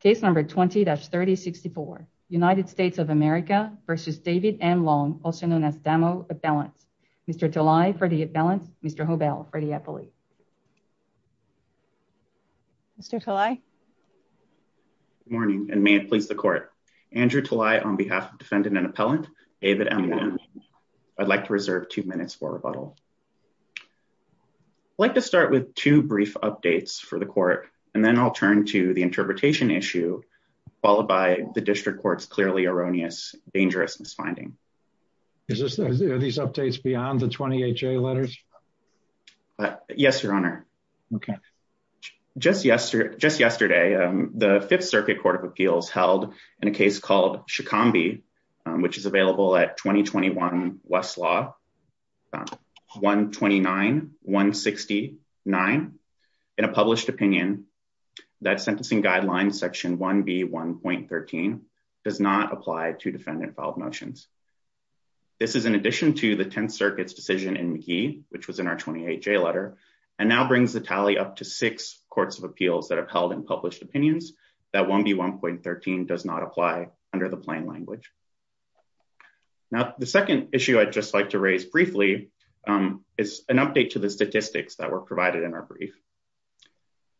Case number 20-3064, United States of America v. David M. Long, also known as Damo Appellant. Mr. Talai for the appellant, Mr. Hobell for the appellate. Mr. Talai. Good morning, and may it please the court. Andrew Talai on behalf of defendant and appellant, David M. Long. I'd like to reserve two minutes for rebuttal. I'd like to start with two brief updates for the court, and then I'll turn to the interpretation issue, followed by the district court's clearly erroneous, dangerous misfinding. Is this, are these updates beyond the 20HA letters? Yes, your honor. Okay. Just yesterday, the Fifth Circuit Court of Appeals held in a case called Shikambi, which is available at 2021 Westlaw, 129-169 in a published opinion, that sentencing guidelines section 1B1.13 does not apply to defendant filed motions. This is in addition to the 10th Circuit's decision in McGee, which was in our 20HA letter, and now brings the tally up to six courts of appeals that have held in published opinions that 1B1.13 does not apply under the plain language. Now, the second issue I'd just like to raise briefly is an update to the statistics that were provided in our brief.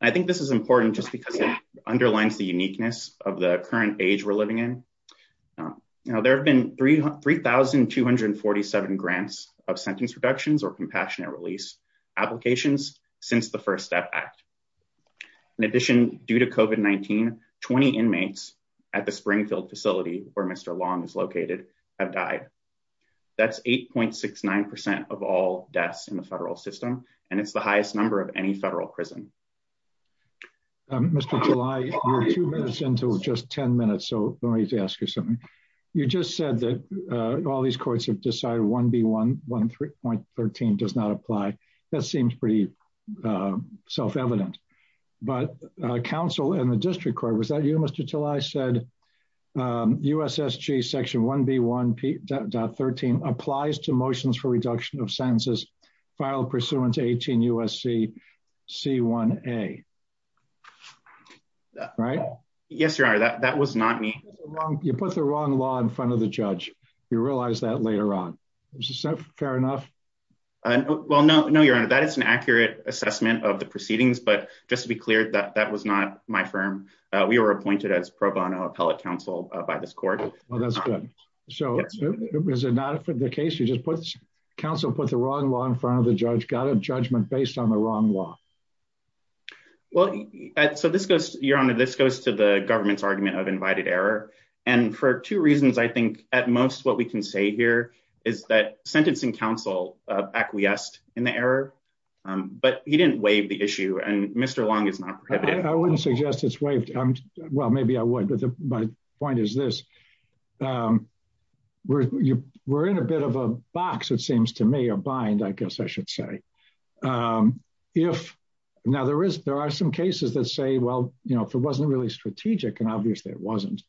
I think this is important just because it underlines the uniqueness of the current age we're living in. Now, there have been 3,247 grants of sentence reductions or compassionate release applications since the First Step Act. In addition, due to COVID-19, 20 inmates at the Springfield facility where Mr. Long is located have died. That's 8.69% of all deaths in the federal system, and it's the highest number of any federal prison. Mr. Tilley, you're two minutes into just 10 minutes, so let me just ask you something. You just said that all these courts have decided 1B1.13 does not apply. That seems pretty self-evident. But counsel in the district court, was that you, Mr. Tilley, said, USSG section 1B1.13 applies to motions for reduction of sentences filed pursuant to 18 U.S.C. C1A. Right? Yes, Your Honor, that was not me. You put the wrong law in front of the judge. You realize that later on. Is that fair enough? Well, no, Your Honor. That is an accurate assessment of the proceedings, but just to be clear, that was not my firm. We were appointed as pro bono appellate counsel by this court. Well, that's good. So is it not for the case? Counsel put the wrong law in front of the judge, got a judgment based on the wrong law. Well, so this goes, Your Honor, this goes to the government's argument of invited error. And for two reasons, I think at most what we can say here is that sentencing counsel acquiesced in the error, but he didn't waive the issue, and Mr. Long is not prohibited. I wouldn't suggest it's waived. Well, maybe I would, but my point is this. We're in a bit of a box, it seems to me, a bind, I guess I should say. If, now there are some cases that say, well, if it wasn't really strategic, and obviously it wasn't,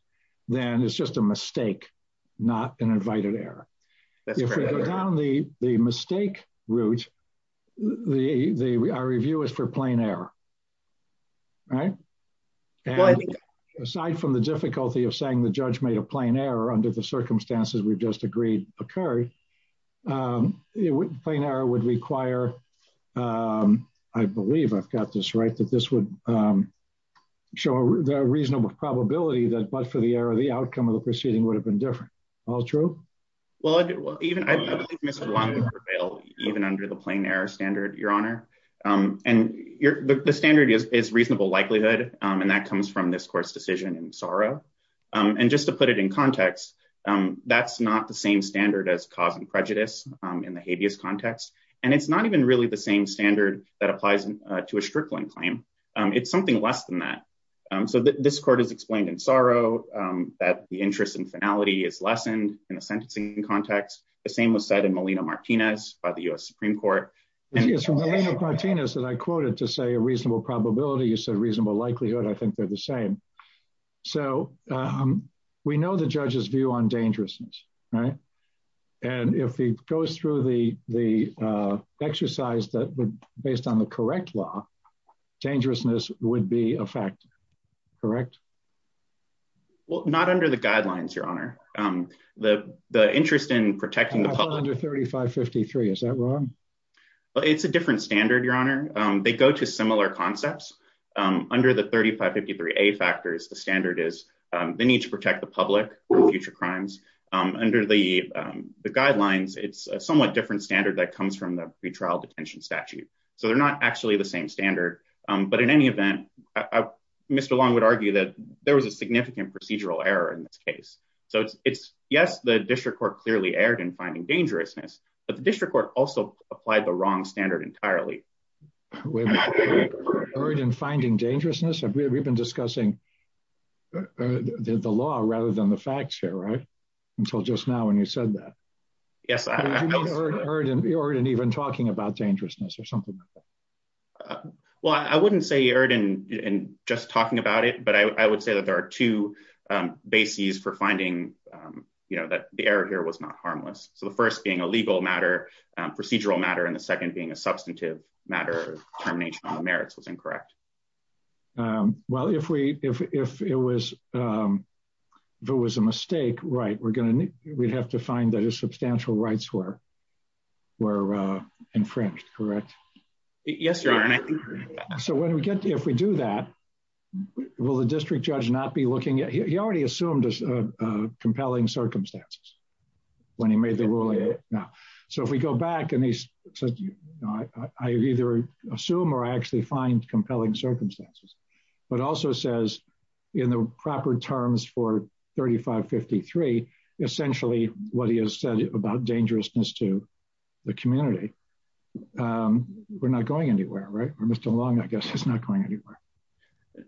then it's just a mistake, not an invited error. If we go down the mistake route, our review is for plain error, right? Aside from the difficulty of saying the judge made a plain error under the circumstances we've just agreed occurred, plain error would require, I believe I've got this right, that this would show a reasonable probability that but for the error, the outcome of the proceeding would have been different. All true? Well, I believe Mr. Long would prevail even under the plain error standard, Your Honor. And the standard is reasonable likelihood, and that comes from this court's decision in Saro. And just to put it in context, that's not the same standard as cause and prejudice in the habeas context. And it's not even really the same standard that applies to a Strickland claim. It's something less than that. So this court has explained in Saro that the interest in finality is lessened in the sentencing context. The same was said in Molina-Martinez by the U.S. Supreme Court. It's from Molina-Martinez that I quoted to say a reasonable probability is a reasonable likelihood. I think they're the same. So we know the judge's view on dangerousness, right? And if he goes through the exercise that based on the correct law, dangerousness would be a fact, correct? Well, not under the guidelines, Your Honor. The interest in protecting the public- Not under 3553, is that wrong? Well, it's a different standard, Your Honor. They go to similar concepts. Under the 3553A factors, the standard is they need to protect the public from future crimes. Under the guidelines, it's a somewhat different standard that comes from the pretrial detention statute. So they're not actually the same standard, but in any event, Mr. Long would argue that there was a significant procedural error in this case. So it's, yes, the district court clearly erred in finding dangerousness, but the district court also applied the wrong standard entirely. With erring in finding dangerousness? We've been discussing the law rather than the facts here, right? Until just now when you said that. Yes, I- Did you mean erring in even talking about dangerousness or something like that? Well, I wouldn't say erring in just talking about it, but I would say that there are two bases for finding that the error here was not harmless. So the first being a legal matter, procedural matter, and the second being a substantive matter of termination on the merits was incorrect. Well, if it was a mistake, right, we'd have to find that his substantial rights were infringed, correct? Yes, Your Honor. So when we get to, if we do that, will the district judge not be looking at, he already assumed compelling circumstances when he made the ruling. So if we go back and he said, I either assume or I actually find compelling circumstances, but also says in the proper terms for 3553, essentially what he has said about dangerousness to the community, we're not going anywhere, right? Mr. Long, I guess he's not going anywhere.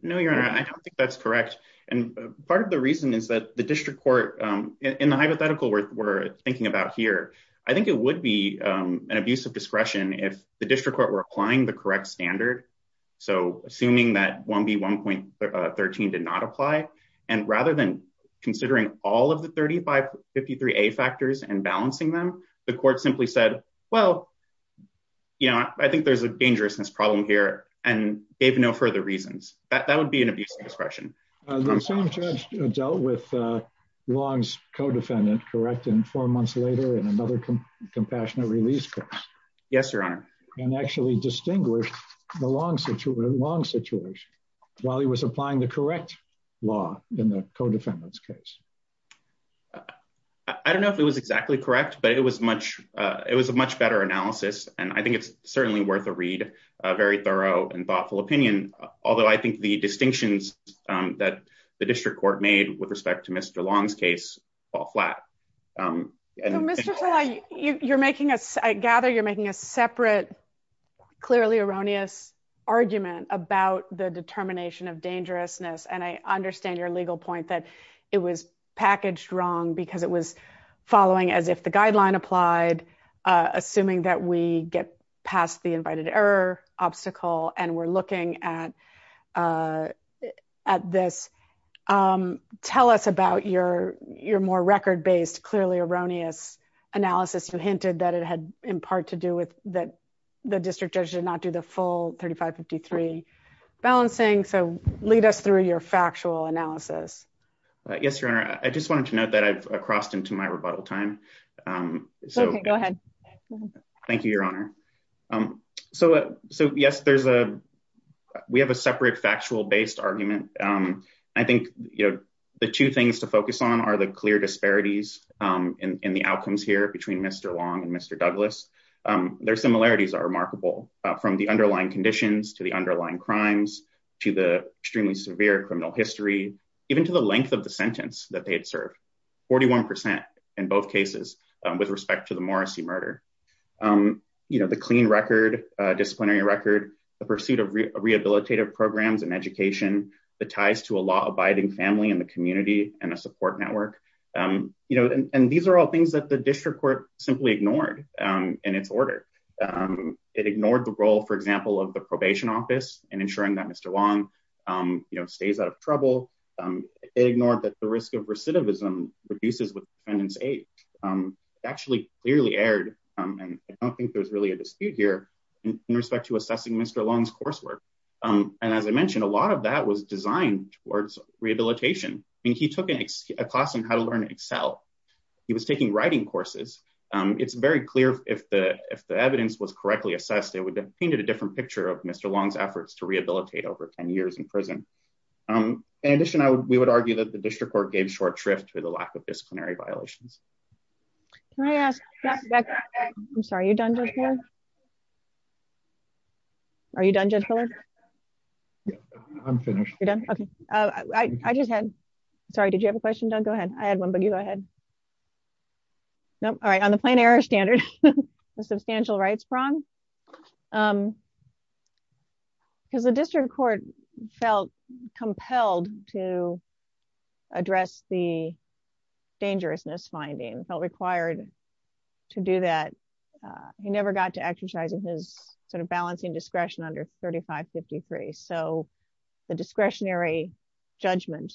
No, Your Honor, I don't think that's correct. And part of the reason is that the district court in the hypothetical we're thinking about here, I think it would be an abuse of discretion if the district court were applying the correct standard. So assuming that 1B1.13 did not apply, and rather than considering all of the 3553A factors and balancing them, the court simply said, well, I think there's a dangerousness problem here and gave no further reasons. That would be an abuse of discretion. The same judge dealt with Long's co-defendant, correct? And four months later in another compassionate release case. Yes, Your Honor. And actually distinguished the Long situation while he was applying the correct law in the co-defendant's case. I don't know if it was exactly correct, but it was a much better analysis. And I think it's certainly worth a read, a very thorough and thoughtful opinion. Although I think the distinctions that the district court made with respect to Mr. Long's case fall flat. So Mr. Talai, I gather you're making a separate clearly erroneous argument about the determination of dangerousness. And I understand your legal point that it was packaged wrong because it was following as if the guideline applied, assuming that we get past the invited error obstacle and we're looking at this. Tell us about your more record-based clearly erroneous analysis. You hinted that it had in part to do with that the district judge did not do the full 3553 balancing. So lead us through your factual analysis. Yes, Your Honor. I just wanted to note that I've crossed into my rebuttal time. Okay, go ahead. Thank you, Your Honor. So yes, we have a separate factual-based argument. I think the two things to focus on are the clear disparities in the outcomes here between Mr. Long and Mr. Douglas. Their similarities are remarkable from the underlying conditions to the underlying crimes to the extremely severe criminal history, even to the length of the sentence that they had served, 41% in both cases with respect to the Morrissey murder. The clean record, disciplinary record, the pursuit of rehabilitative programs and education, the ties to a law-abiding family in the community and a support network. And these are all things that the district court simply ignored in its order. It ignored the role, for example, of the probation office in ensuring that Mr. Long stays out of trouble. It ignored that the risk of recidivism reduces with defendant's age. It actually clearly aired, and I don't think there's really a dispute here, in respect to assessing Mr. Long's coursework. And as I mentioned, a lot of that was designed towards rehabilitation. I mean, he took a class on how to learn Excel. He was taking writing courses. It's very clear if the evidence was correctly assessed, it would have painted a different picture of Mr. Long's efforts to rehabilitate over 10 years in prison. In addition, we would argue that the district court gave short shrift to the lack of disciplinary violations. Can I ask, I'm sorry, are you done, Judge Fuller? Are you done, Judge Fuller? Yeah, I'm finished. You're done, okay. I just had, sorry, did you have a question, Doug? Go ahead, I had one, but you go ahead. Nope, all right, on the plain error standard, the substantial rights prong, because the district court felt compelled to address the dangerousness findings, felt required to do that. He never got to exercising his sort of balancing discretion under 3553. So the discretionary judgment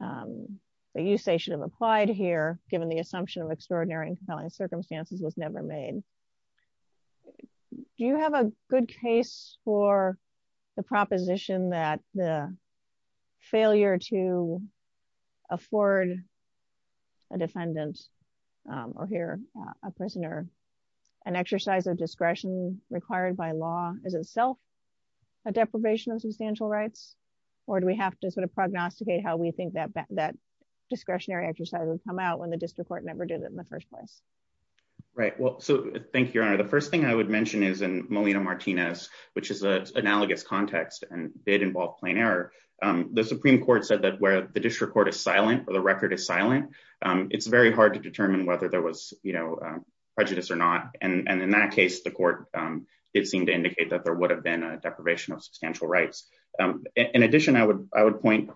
that you say should have applied here, given the assumption of extraordinary and compelling circumstances was never made. Do you have a good case for the proposition that the failure to afford a disciplinary judgment for a defendant or here, a prisoner, an exercise of discretion required by law is itself a deprivation of substantial rights, or do we have to sort of prognosticate how we think that discretionary exercise would come out when the district court never did it in the first place? Right, well, so thank you, Your Honor. The first thing I would mention is in Molina-Martinez, which is an analogous context and did involve plain error. The Supreme Court said that where the district court is silent or the record is silent, it's very hard to determine whether there was prejudice or not. And in that case, the court did seem to indicate that there would have been a deprivation of substantial rights. In addition, I would point,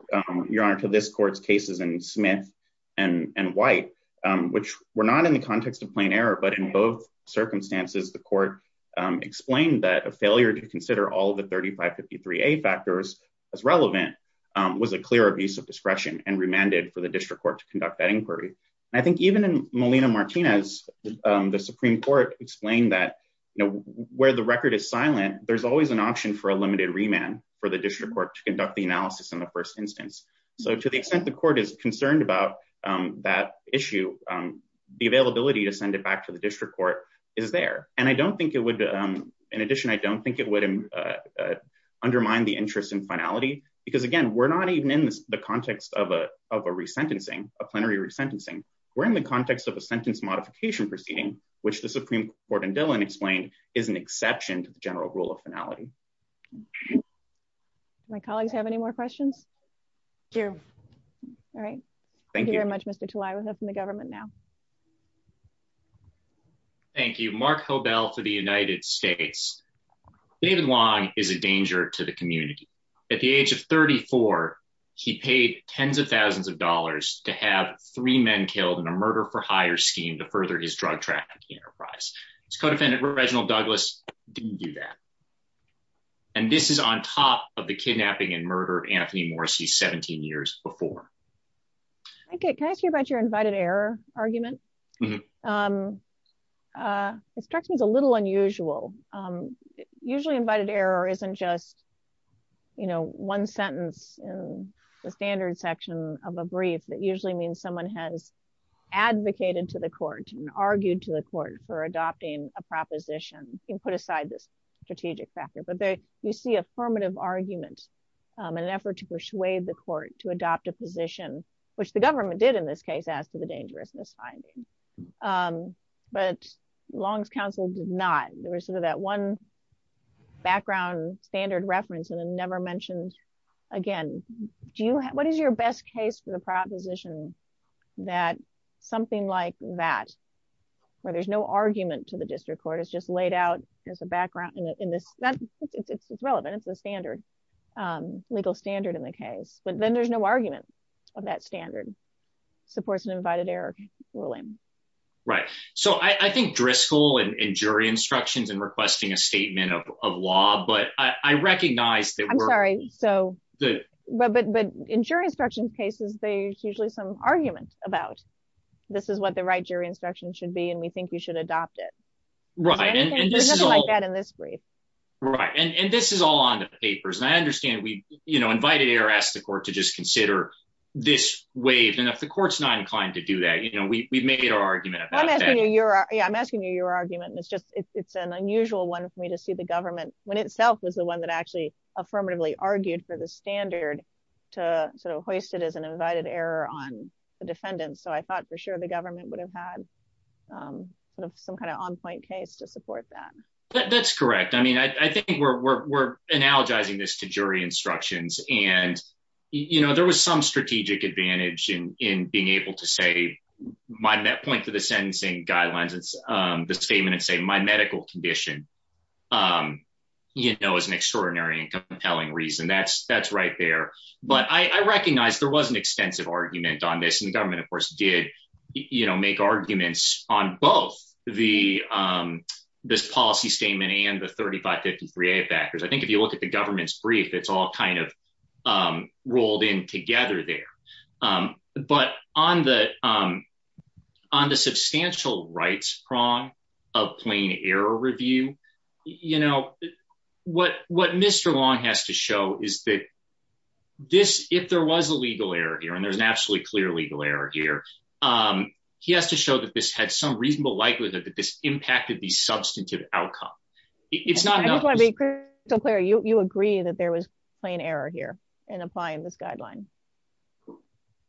Your Honor, to this court's cases in Smith and White, which were not in the context of plain error, but in both circumstances, the court explained that a failure to consider all of the 3553A factors as relevant was a clear abuse of discretion and remanded for the district court to conduct that inquiry. And I think even in Molina-Martinez, the Supreme Court explained that where the record is silent, there's always an option for a limited remand for the district court to conduct the analysis in the first instance. So to the extent the court is concerned about that issue, the availability to send it back to the district court is there. And I don't think it would, in addition, I don't think it would undermine the interest in finality, because again, we're not even in the context of a resentencing, a plenary resentencing. We're in the context of a sentence modification proceeding, which the Supreme Court in Dillon explained is an exception to the general rule of finality. My colleagues have any more questions? Here. All right. Thank you very much, Mr. Talai. We'll hear from the government now. Thank you. Mark Hobel for the United States. David Wong is a danger to the community. At the age of 34, he paid tens of thousands of dollars to have three men killed in a murder for hire scheme to further his drug trafficking enterprise. His co-defendant, Reginald Douglas, didn't do that. And this is on top of the kidnapping and murder of Anthony Morrissey 17 years before. Okay, can I ask you about your invited error argument? This strikes me as a little unusual. Usually invited error isn't just one sentence in the standard section of a brief. That usually means someone has advocated to the court and argued to the court for adopting a proposition and put aside this strategic factor. But you see affirmative argument in an effort to persuade the court to adopt a position, which the government did in this case as to the dangerousness finding. But Long's counsel did not. There was sort of that one background standard reference and then never mentioned again. What is your best case for the proposition that something like that, where there's no argument to the district court, is just laid out as a background in this? It's relevant, it's the standard, legal standard in the case. But then there's no argument of that standard. Supports an invited error ruling. Right, so I think Driscoll and jury instructions in requesting a statement of law, but I recognize that we're- I'm sorry, so, but in jury instruction cases, there's usually some argument about, this is what the right jury instruction should be and we think you should adopt it. Right, and this is all- There's nothing like that in this brief. Right, and this is all on the papers. And I understand we invited error, asked the court to just consider this waived. And if the court's not inclined to do that, we've made our argument about that. Yeah, I'm asking you your argument. And it's an unusual one for me to see the government, when itself was the one that actually affirmatively argued for the standard to sort of hoist it as an invited error on the defendants. So I thought for sure the government would have had some kind of on-point case to support that. That's correct. I mean, I think we're analogizing this to jury instructions. And there was some strategic advantage in being able to say, my point to the sentencing guidelines, the statement and say my medical condition, is an extraordinary and compelling reason. That's right there. But I recognize there was an extensive argument on this. And the government of course did make arguments on both this policy statement and the 3553A factors. I think if you look at the government's brief, it's all kind of rolled in together there. But on the substantial rights prong of plain error review, what Mr. Long has to show is that this, if there was a legal error here, and there's an absolutely clear legal error here, he has to show that this had some reasonable likelihood that this impacted the substantive outcome. It's not enough- I just wanna be crystal clear. You agree that there was plain error here in applying this guideline?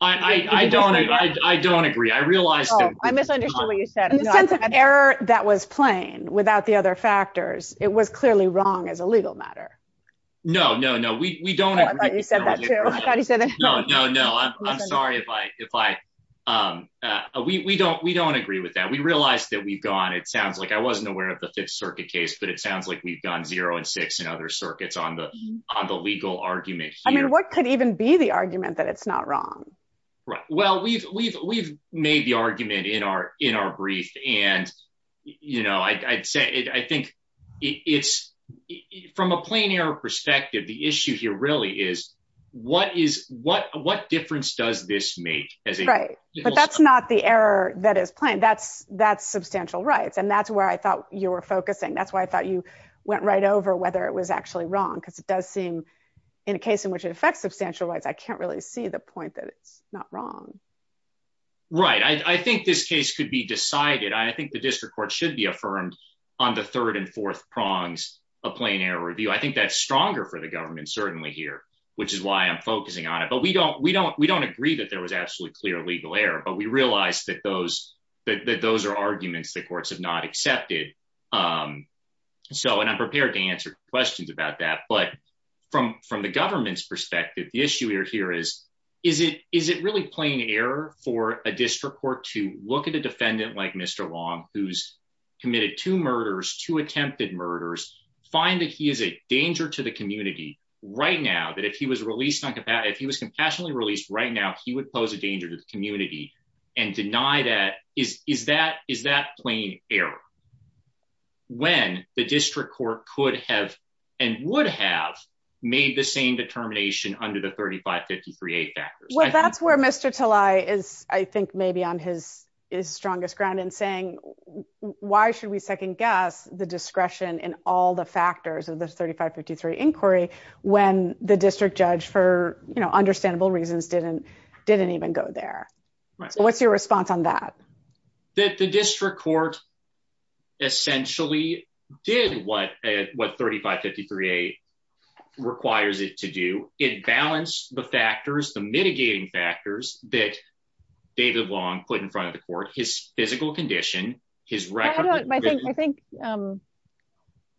I don't agree. I realized that- I misunderstood what you said. In the sense of error that was plain without the other factors, it was clearly wrong as a legal matter. No, no, no. We don't agree. I thought you said that too. I thought you said that too. No, no, no. I'm sorry if I, we don't agree with that. We realized that we've gone, it sounds like, I wasn't aware of the Fifth Circuit case, but it sounds like we've gone zero and six in other circuits on the legal argument here. What could even be the argument that it's not wrong? Well, we've made the argument in our brief and I'd say, I think it's, from a plain error perspective, the issue here really is what difference does this make? But that's not the error that is plain. That's substantial rights. And that's where I thought you were focusing. That's why I thought you went right over whether it was actually wrong because it does seem, in a case in which it affects substantial rights, I can't really see the point that it's not wrong. Right. I think this case could be decided. I think the district court should be affirmed on the third and fourth prongs of plain error review. I think that's stronger for the government certainly here, which is why I'm focusing on it. But we don't agree that there was absolutely clear legal error, but we realized that those are arguments the courts have not accepted. So, and I'm prepared to answer questions about that, but from the government's perspective, the issue here is, is it really plain error for a district court to look at a defendant like Mr. Long, who's committed two murders, two attempted murders, find that he is a danger to the community right now, that if he was released on capacity, if he was compassionately released right now, he would pose a danger to the community and deny that. Is that plain error? When the district court could have and would have made the same determination under the 3553A factors. Well, that's where Mr. Tlai is, I think maybe on his strongest ground in saying, why should we second guess the discretion in all the factors of the 3553 inquiry when the district judge for understandable reasons didn't even go there? So what's your response on that? That the district court essentially did what 3553A requires it to do. It balanced the factors, the mitigating factors that David Long put in front of the court, his physical condition, his record- I think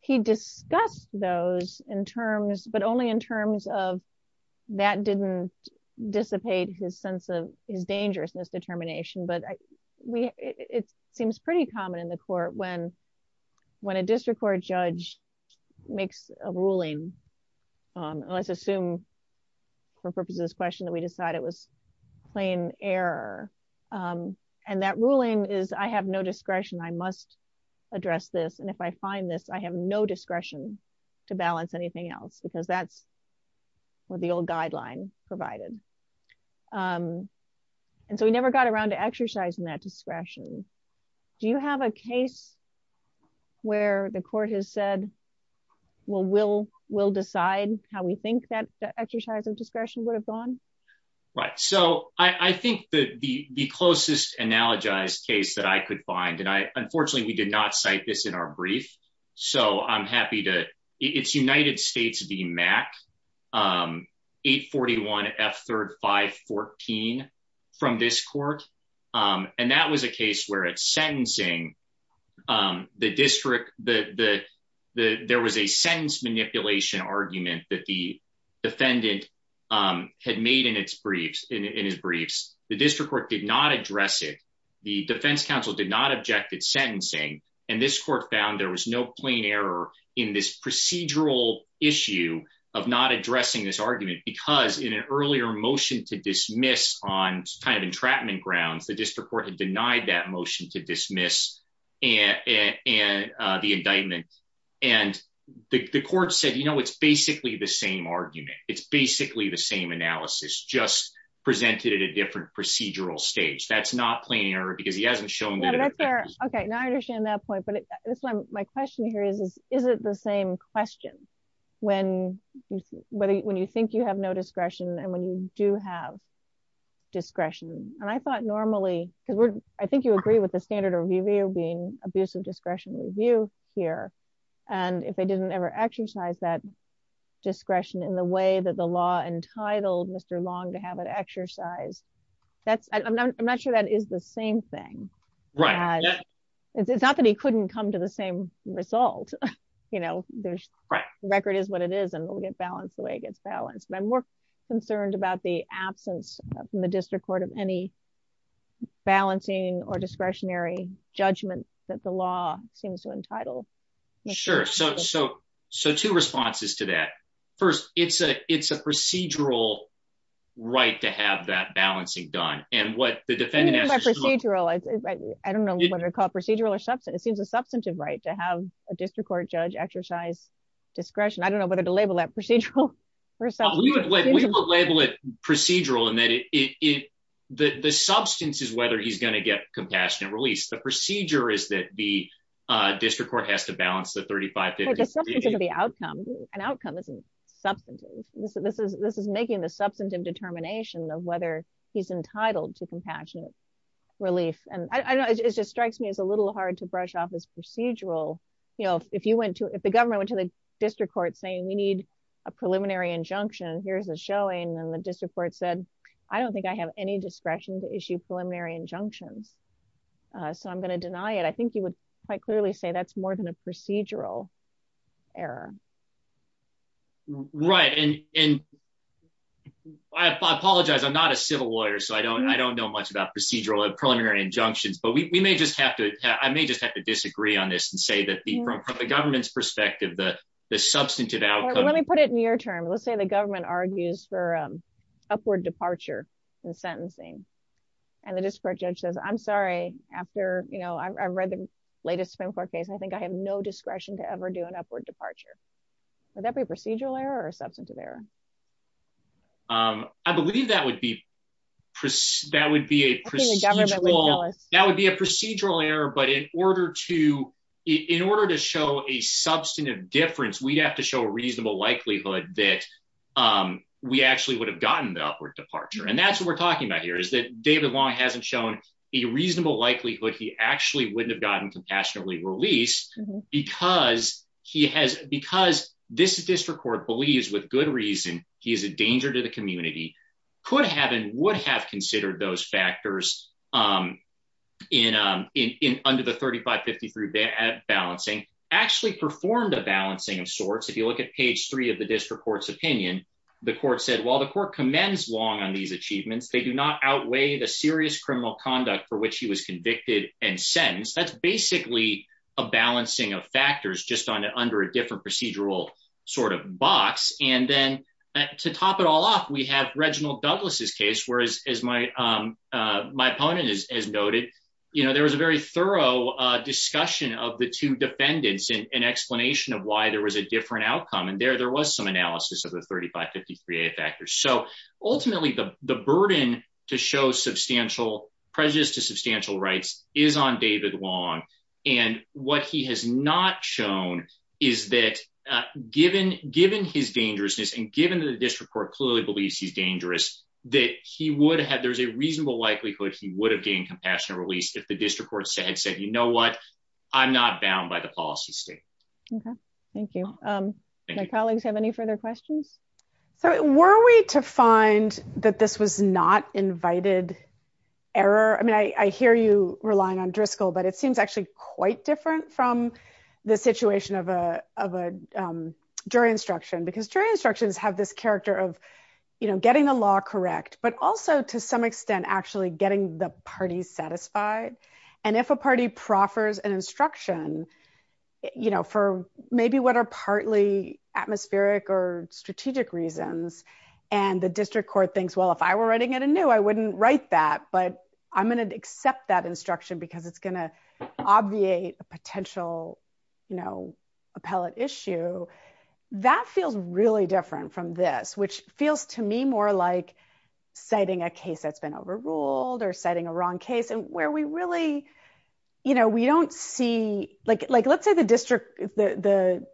he discussed those in terms, but only in terms of that didn't dissipate his sense of his dangerousness determination, but it seems pretty common in the court when a district court judge makes a ruling, let's assume for purposes of this question that we decided it was plain error. And that ruling is, I have no discretion, I must address this. And if I find this, I have no discretion to balance anything else because that's what the old guideline provided. And so we never got around to exercising that discretion. Do you have a case where the court has said, well, we'll decide how we think that the exercise of discretion would have gone? Right, so I think that the closest analogized case that I could find, and unfortunately we did not cite this in our brief. So I'm happy to, it's United States v. MAC, 841F3514 from this court. And that was a case where it's sentencing the district, there was a sentence manipulation argument that the defendant had made in his briefs. The district court did not address it. The defense counsel did not object at sentencing. And this court found there was no plain error in this procedural issue of not addressing this argument because in an earlier motion to dismiss on kind of entrapment grounds, the district court had denied that motion to dismiss the indictment. And the court said, you know, it's basically the same argument. It's basically the same analysis, just presented at a different procedural stage. That's not plain error because he hasn't shown that- Okay, now I understand that point, but that's why my question here is, is it the same question when you think you have no discretion and when you do have discretion? And I thought normally, because I think you agree with the standard of review being abuse of discretion review here. And if they didn't ever exercise that discretion in the way that the law entitled Mr. Long to have it exercised, that's, I'm not sure that is the same thing. Right. It's not that he couldn't come to the same result. You know, the record is what it is and it will get balanced the way it gets balanced. But I'm more concerned about the absence from the district court of any balancing or discretionary judgment that the law seems to entitle. Sure. So two responses to that. First, it's a procedural right to have that balancing done. And what the defendant- What do you mean by procedural? I don't know whether to call it procedural or substantive. It seems a substantive right to have a district court judge exercise discretion. I don't know whether to label that procedural or substantive. We would label it procedural and that the substance is whether he's gonna get compassionate release. The procedure is that the district court has to balance the 35-50- The substance of the outcome. An outcome isn't substantive. This is making the substantive determination of whether he's entitled to compassionate relief. And I don't know, it just strikes me as a little hard to brush off as procedural. You know, if the government went to the district court saying we need a preliminary injunction, here's a showing. And the district court said, I don't think I have any discretion to issue preliminary injunctions. So I'm gonna deny it. I think you would quite clearly say that's more than a procedural error. Right. And I apologize, I'm not a civil lawyer. So I don't know much about procedural or preliminary injunctions, but I may just have to disagree on this and say that from the government's perspective, the substantive outcome- Let me put it in your term. Let's say the government argues for upward departure in sentencing. And the district judge says, I'm sorry, after, you know, I've read the latest spin court case and I think I have no discretion to ever do an upward departure. Would that be a procedural error or a substantive error? I believe that would be a procedural- I think the government would know this. That would be a procedural error, but in order to show a substantive difference, we'd have to show a reasonable likelihood that we actually would have gotten the upward departure. And that's what we're talking about here, is that David Long hasn't shown a reasonable likelihood he actually wouldn't have gotten compassionately released because this district court believes with good reason, he is a danger to the community, could have and would have considered those factors under the 3553 balancing, actually performed a balancing of sorts. If you look at page three of the district court's opinion, the court said, while the court commends Long on these achievements, they do not outweigh the serious criminal conduct for which he was convicted and sentenced. That's basically a balancing of factors just under a different procedural sort of box. And then to top it all off, we have Reginald Douglas's case, where as my opponent has noted, there was a very thorough discussion of the two defendants and explanation of why there was a different outcome. And there, there was some analysis of the 3553 factors. So ultimately the burden to show substantial prejudice to substantial rights is on David Long. And what he has not shown is that given his dangerousness and given that the district court clearly believes he's dangerous, that he would have, there's a reasonable likelihood he would have gained compassionate release if the district court had said, you know what? I'm not bound by the policy state. Okay, thank you. My colleagues have any further questions? So were we to find that this was not invited error? I mean, I hear you relying on Driscoll, but it seems actually quite different from the situation of a jury instruction, because jury instructions have this character of, you know, getting the law correct, but also to some extent, actually getting the parties satisfied. And if a party proffers an instruction, you know, for maybe what are partly atmospheric or strategic reasons, and the district court thinks, well, if I were writing it anew, I wouldn't write that, but I'm gonna accept that instruction because it's gonna obviate a potential, you know, appellate issue. That feels really different from this, which feels to me more like citing a case that's been overruled or citing a wrong case and where we really, you know, we don't see, like let's say the district, the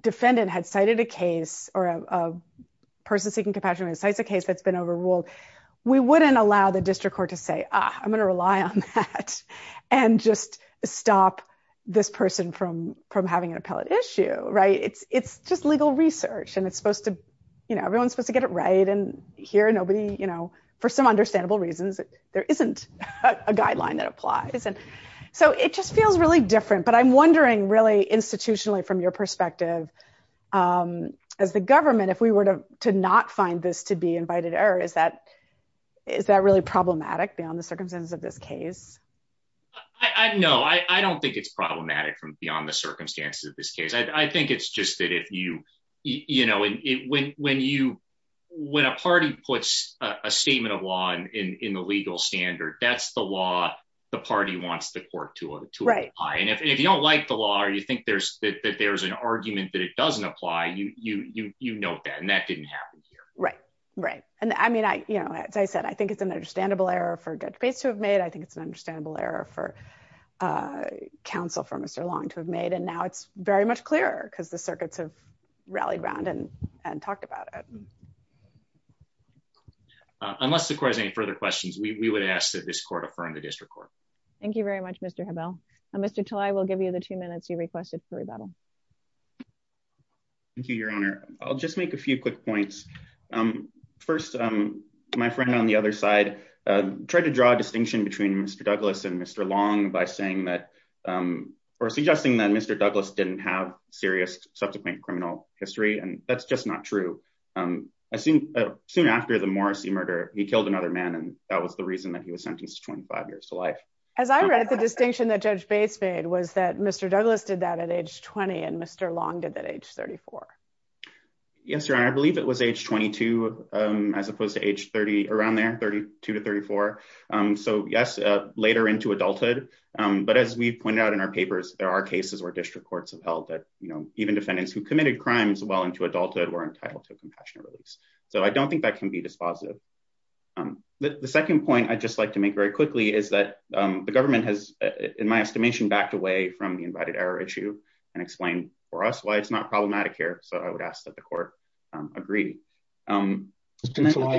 defendant had cited a case or a person seeking compassion and cites a case that's been overruled. We wouldn't allow the district court to say, ah, I'm gonna rely on that and just stop this person from having an appellate issue, right? It's just legal research and it's supposed to, you know, everyone's supposed to get it right. And here, nobody, you know, for some understandable reasons, there isn't a guideline that applies. And so it just feels really different, but I'm wondering really institutionally from your perspective, as the government, if we were to not find this to be invited error, is that really problematic beyond the circumstances of this case? No, I don't think it's problematic from beyond the circumstances of this case. I think it's just that if you, you know, when a party puts a statement of law in the legal standard, that's the law the party wants the court to apply. And if you don't like the law or you think that there's an argument that it doesn't apply, you note that and that didn't happen here. Right, right. And I mean, you know, as I said, I think it's an understandable error for Judge Bates to have made. I think it's an understandable error for counsel for Mr. Long to have made. And now it's very much clearer because the circuits have rallied around and talked about it. Unless the court has any further questions, we would ask that this court affirm the district court. Thank you very much, Mr. Hebel. And Mr. Talai will give you the two minutes you requested for rebuttal. Thank you, your honor. I'll just make a few quick points. First, my friend on the other side tried to draw a distinction between Mr. Douglas and Mr. Long by saying that, or suggesting that Mr. Douglas didn't have serious subsequent criminal history. And that's just not true. Soon after the Morrissey murder, he killed another man and that was the reason that he was sentenced to 25 years to life. As I read it, the distinction that Judge Bates made was that Mr. Douglas did that at age 20 and Mr. Long did that age 34. Yes, your honor, I believe it was age 22 as opposed to age 30, around there, 32 to 34. So yes, later into adulthood. But as we've pointed out in our papers, there are cases where district courts have held that, even defendants who committed crimes well into adulthood were entitled to a compassionate release. So I don't think that can be dispositive. The second point I'd just like to make very quickly is that the government has, in my estimation, backed away from the invited error issue and explained for us why it's not problematic here. So I would ask that the court agree. Since I saw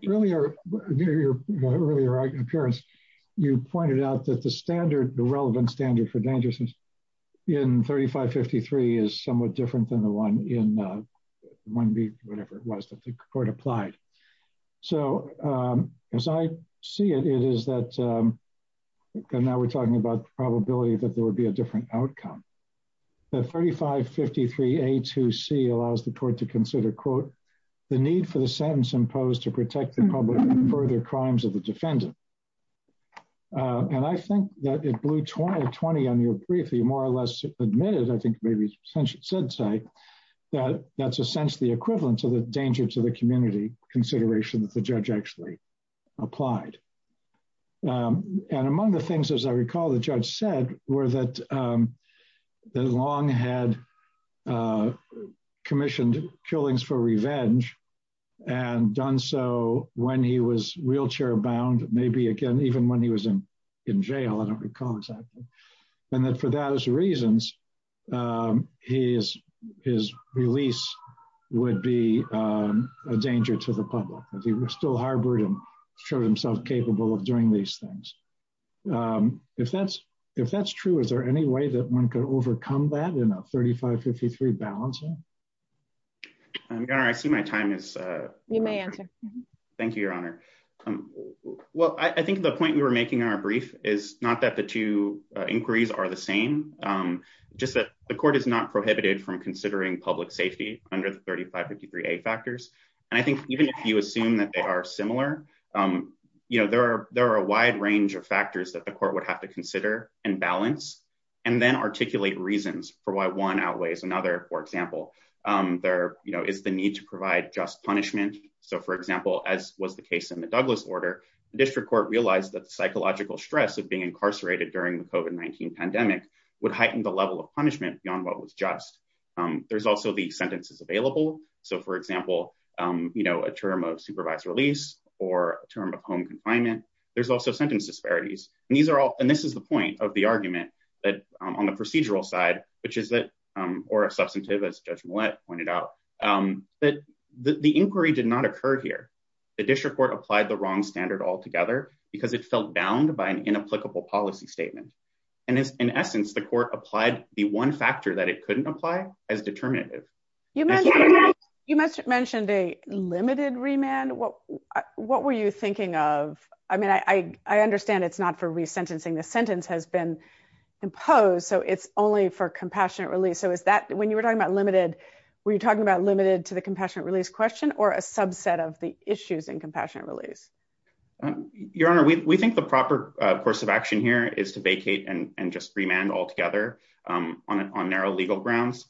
your earlier appearance, you pointed out that the standard, the relevant standard for dangerousness in 3553 is somewhat different than the one in 1B, whatever it was that the court applied. So as I see it, it is that, and now we're talking about the probability that there would be a different outcome. The 3553A2C allows the court to consider, quote, the need for the sentence imposed to protect the public from further crimes of the defendant. And I think that it blew 20 on your brief, you more or less admitted, I think maybe since you said so, that that's essentially equivalent to the danger to the community consideration that the judge actually applied. And among the things, as I recall, the judge said were that Long had commissioned killings for revenge and done so when he was wheelchair bound, maybe again, even when he was in jail, I don't recall exactly. And that for those reasons, his release would be a danger to the public that he was still harbored and showed himself capable of doing these things. If that's true, is there any way that one could overcome that in a 3553 balancing? Your Honor, I see my time is- You may answer. Thank you, Your Honor. Well, I think the point we were making in our brief is not that the two inquiries are the same, just that the court is not prohibited from considering public safety under the 3553A factors. And I think even if you assume that they are similar, there are a wide range of factors that the court would have to consider and balance and then articulate reasons for why one outweighs another. For example, there is the need to provide just punishment. So for example, as was the case in the Douglas order, the district court realized that the psychological stress of being incarcerated during the COVID-19 pandemic would heighten the level of punishment beyond what was just. There's also the sentences available. So for example, a term of supervised release or a term of home confinement, there's also sentence disparities. And these are all, and this is the point of the argument that on the procedural side, which is that, or a substantive as Judge Millett pointed out, that the inquiry did not occur here. The district court applied the wrong standard altogether because it felt bound by an inapplicable policy statement. And in essence, the court applied the one factor that it couldn't apply as determinative. You mentioned a limited remand. What were you thinking of? I mean, I understand it's not for resentencing. The sentence has been imposed. So it's only for compassionate release. So is that, when you were talking about limited, were you talking about limited to the compassionate release question or a subset of the issues in compassionate release? Your Honor, we think the proper course of action here is to vacate and just remand altogether on narrow legal grounds.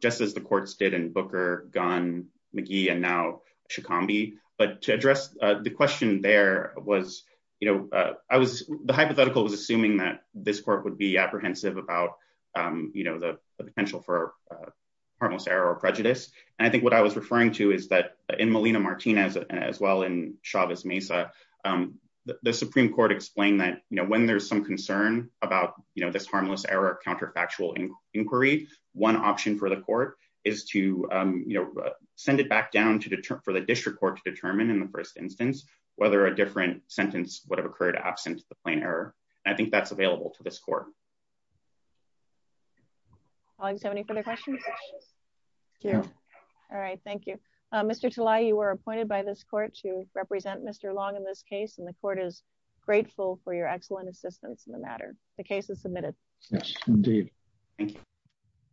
Just as the courts did in Booker, Gunn, McGee, and now Shikambi. But to address the question there was, the hypothetical was assuming that this court would be apprehensive about the potential for harmless error or prejudice. And I think what I was referring to is that in Melina Martinez, as well in Chavez Mesa, the Supreme Court explained that when there's some concern about this harmless error counterfactual inquiry, one option for the court is to send it back down for the district court to determine in the first instance, whether a different sentence would have occurred absent the plain error. And I think that's available to this court. Do you have any further questions? Yeah. All right, thank you. Mr. Talai, you were appointed by this court to represent Mr. Long in this case. And the court is grateful for your excellent assistance in the matter. The case is submitted. Yes, indeed. Thank you.